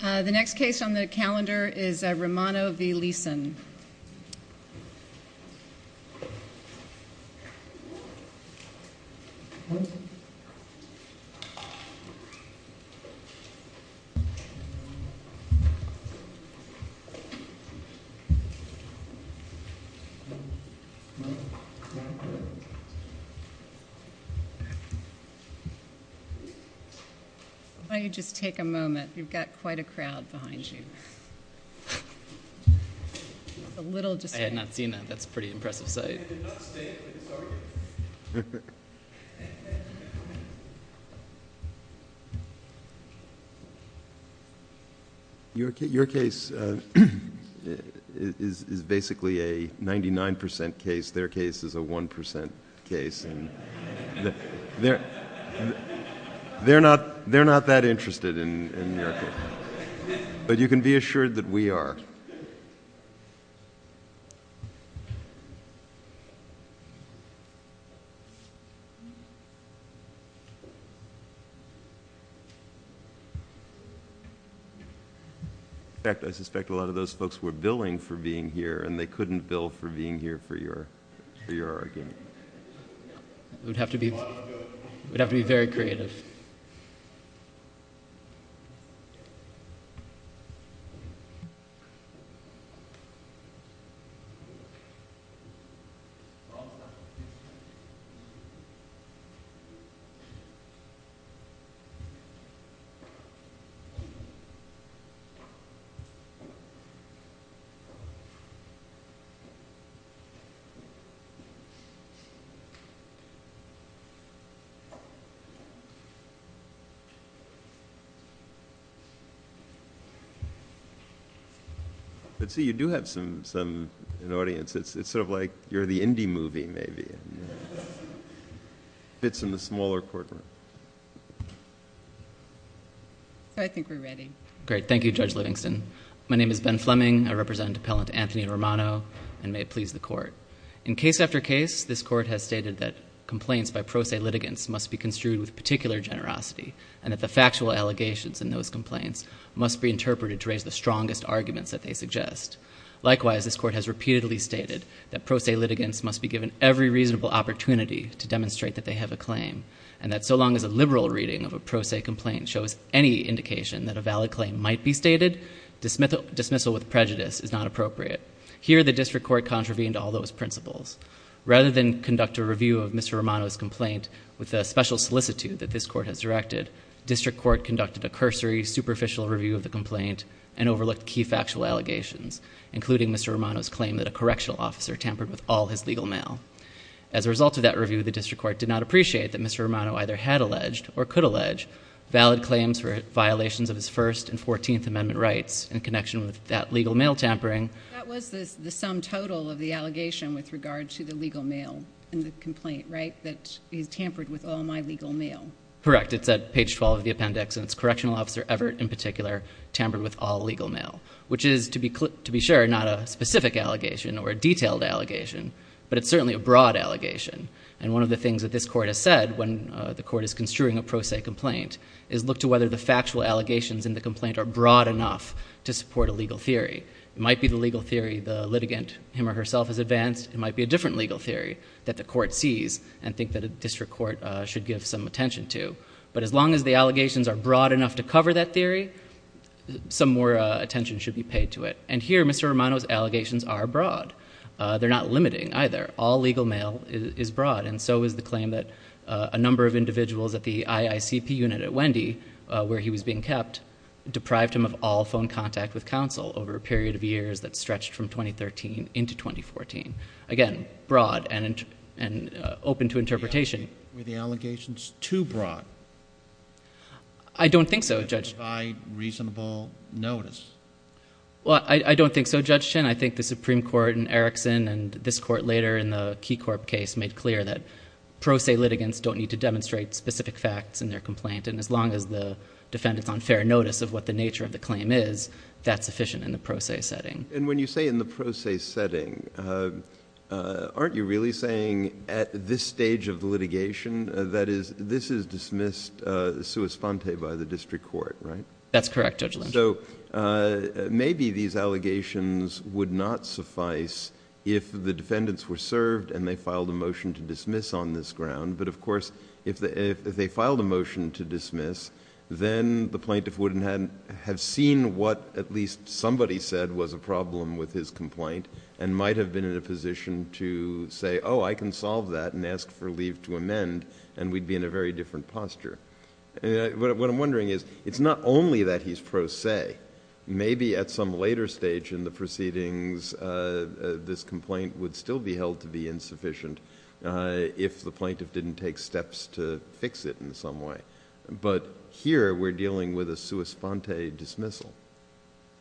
The next case on the calendar is Romano v. Lisson. Why don't you just take a moment, you've got quite a crowd behind you. I had not seen that, that's a pretty impressive sight. Your case is basically a 99% case, their case is a 1% case and they're not that interested in your case. But you can be assured that we are. In fact, I suspect a lot of those folks were billing for being here and they couldn't bill for being here for your argument. We'd have to be very creative. Let's see, you do have some, an audience, it's sort of like you're the indie movie maybe. Fits in the smaller courtroom. So I think we're ready. Great, thank you Judge Livingston. My name is Ben Fleming, I represent Appellant Anthony Romano and may it please the court. In case after case, this court has stated that complaints by pro se litigants must be construed with particular generosity and that the factual allegations in those complaints must be interpreted to raise the strongest arguments that they suggest. Likewise, this court has repeatedly stated that pro se litigants must be given every reasonable opportunity to demonstrate that they have a claim and that so long as a liberal reading of a pro se complaint shows any indication that a valid claim might be stated, dismissal with prejudice is not appropriate. Here the district court contravened all those principles. Rather than conduct a review of Mr. Romano's complaint with a special solicitude that this court has directed, district court conducted a cursory superficial review of the complaint and overlooked key factual allegations, including Mr. Romano's claim that a correctional officer tampered with all his legal mail. As a result of that review, the district court did not appreciate that Mr. Romano either had alleged or could allege valid claims for violations of his First and Fourteenth Amendment rights in connection with that legal mail tampering. That was the sum total of the allegation with regard to the legal mail in the complaint, right, that he's tampered with all my legal mail? Correct. It's at page 12 of the appendix, and it's correctional officer Everett in particular tampered with all legal mail, which is, to be sure, not a specific allegation or a detailed allegation, but it's certainly a broad allegation. And one of the things that this court has said when the court is construing a pro se complaint is look to whether the factual allegations in the complaint are broad enough to support a legal theory. It might be the legal theory the litigant, him or herself, has advanced. It might be a different legal theory that the court sees and think that a district court should give some attention to. But as long as the allegations are broad enough to cover that theory, some more attention should be paid to it. And here Mr. Romano's allegations are broad. They're not limiting either. All legal mail is broad. And so is the claim that a number of individuals at the IICP unit at Wendy, where he was being kept, deprived him of all phone contact with counsel over a period of years that stretched from 2013 into 2014. Again, broad and open to interpretation. Were the allegations too broad? I don't think so, Judge. To provide reasonable notice. Well, I don't think so, Judge Chin. I think the Supreme Court in Erickson and this court later in the Key Corp case made clear that pro se litigants don't need to demonstrate specific facts in their complaint, and as long as the defendant's on fair notice of what the nature of the claim is, that's sufficient in the pro se setting. And when you say in the pro se setting, aren't you really saying at this stage of the litigation, that this is dismissed sua sponte by the district court, right? That's correct, Judge Lynch. So maybe these allegations would not suffice if the defendants were served and they filed a motion to dismiss on this ground. But, of course, if they filed a motion to dismiss, then the plaintiff would have seen what at least somebody said was a problem with his complaint and might have been in a position to say, oh, I can solve that and ask for leave to amend, and we'd be in a very different posture. What I'm wondering is, it's not only that he's pro se. Maybe at some later stage in the proceedings, this complaint would still be held to be insufficient if the plaintiff didn't take steps to fix it in some way. But here we're dealing with a sua sponte dismissal.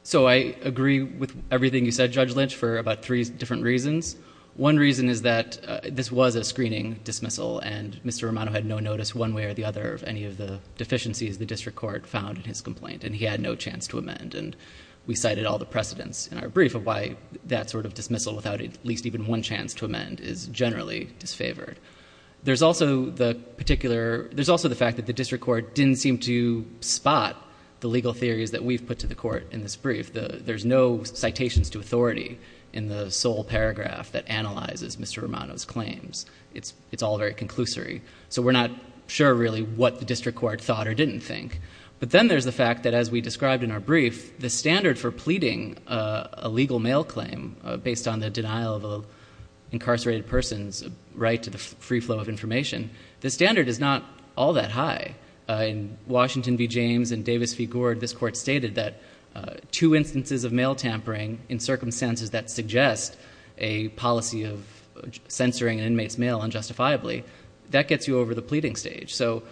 So I agree with everything you said, Judge Lynch, for about three different reasons. One reason is that this was a screening dismissal, and Mr. Romano had no notice one way or the other of any of the deficiencies the district court found in his complaint, and he had no chance to amend. And we cited all the precedents in our brief of why that sort of dismissal, without at least even one chance to amend, is generally disfavored. There's also the fact that the district court didn't seem to spot the legal theories that we've put to the court in this brief. There's no citations to authority in the sole paragraph that analyzes Mr. Romano's claims. It's all very conclusory. So we're not sure, really, what the district court thought or didn't think. But then there's the fact that, as we described in our brief, the standard for pleading a legal mail claim based on the denial of an incarcerated person's right to the free flow of information, the standard is not all that high. In Washington v. James and Davis v. Gord, this court stated that two instances of mail tampering in circumstances that suggest a policy of censoring an inmate's mail unjustifiably, that gets you over the pleading stage. So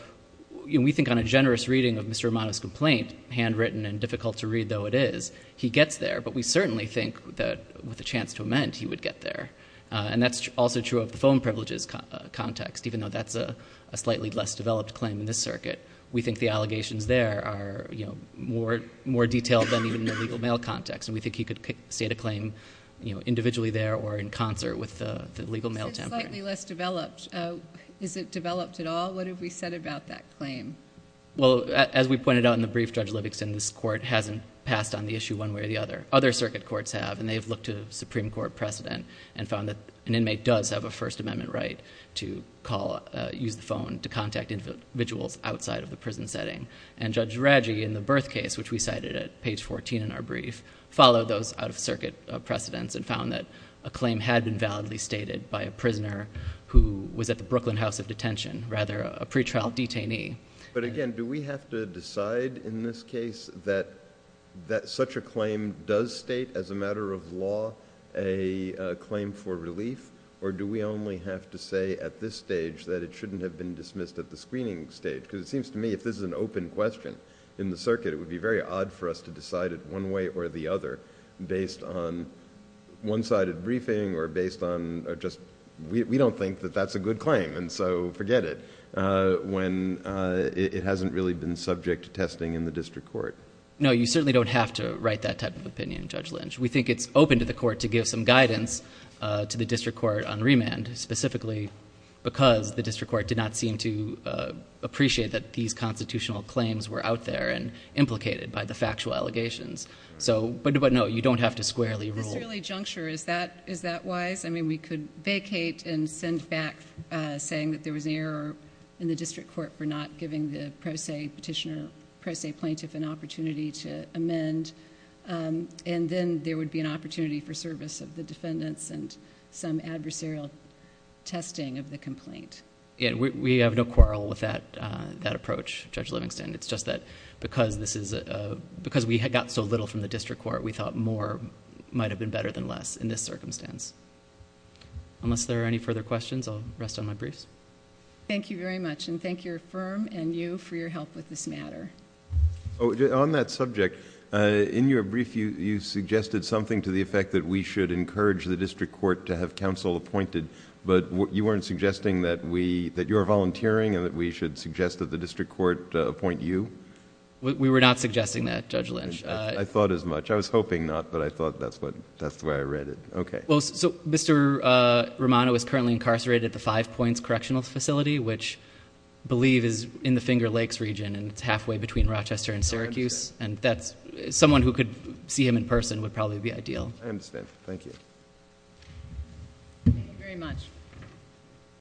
we think on a generous reading of Mr. Romano's complaint, handwritten and difficult to read though it is, he gets there. But we certainly think that with a chance to amend, he would get there. And that's also true of the phone privileges context, even though that's a slightly less developed claim in this circuit. We think the allegations there are more detailed than even the legal mail context, and we think he could state a claim individually there or in concert with the legal mail tampering. It's slightly less developed. Is it developed at all? What have we said about that claim? Well, as we pointed out in the brief, Judge Livingston, this court hasn't passed on the issue one way or the other. Other circuit courts have, and they've looked to the Supreme Court precedent and found that an inmate does have a First Amendment right to use the phone to contact individuals outside of the prison setting. And Judge Draghi, in the birth case, which we cited at page 14 in our brief, followed those out-of-circuit precedents and found that a claim had been validly stated by a prisoner who was at the Brooklyn House of Detention, rather a pretrial detainee. But again, do we have to decide in this case that such a claim does state as a matter of law a claim for relief, or do we only have to say at this stage that it shouldn't have been dismissed at the screening stage? Because it seems to me if this is an open question in the circuit, it would be very odd for us to decide it one way or the other based on one-sided briefing or based on just we don't think that that's a good claim, and so forget it, when it hasn't really been subject to testing in the district court. No, you certainly don't have to write that type of opinion, Judge Lynch. We think it's open to the court to give some guidance to the district court on remand, specifically because the district court did not seem to appreciate that these constitutional claims were out there and implicated by the factual allegations. But no, you don't have to squarely rule. At this early juncture, is that wise? I mean we could vacate and send back saying that there was an error in the district court for not giving the pro se petitioner, pro se plaintiff an opportunity to amend, and then there would be an opportunity for service of the defendants and some adversarial testing of the complaint. We have no quarrel with that approach, Judge Livingston. It's just that because we got so little from the district court, we thought more might have been better than less in this circumstance. Unless there are any further questions, I'll rest on my briefs. Thank you very much, and thank your firm and you for your help with this matter. On that subject, in your brief you suggested something to the effect that we should encourage the district court to have counsel appointed, but you weren't suggesting that you're volunteering and that we should suggest that the district court appoint you? We were not suggesting that, Judge Lynch. I thought as much. I was hoping not, but I thought that's the way I read it. Okay. Mr. Romano is currently incarcerated at the Five Points Correctional Facility, which I believe is in the Finger Lakes region, and it's halfway between Rochester and Syracuse. I understand. Someone who could see him in person would probably be ideal. I understand. Thank you. Thank you very much.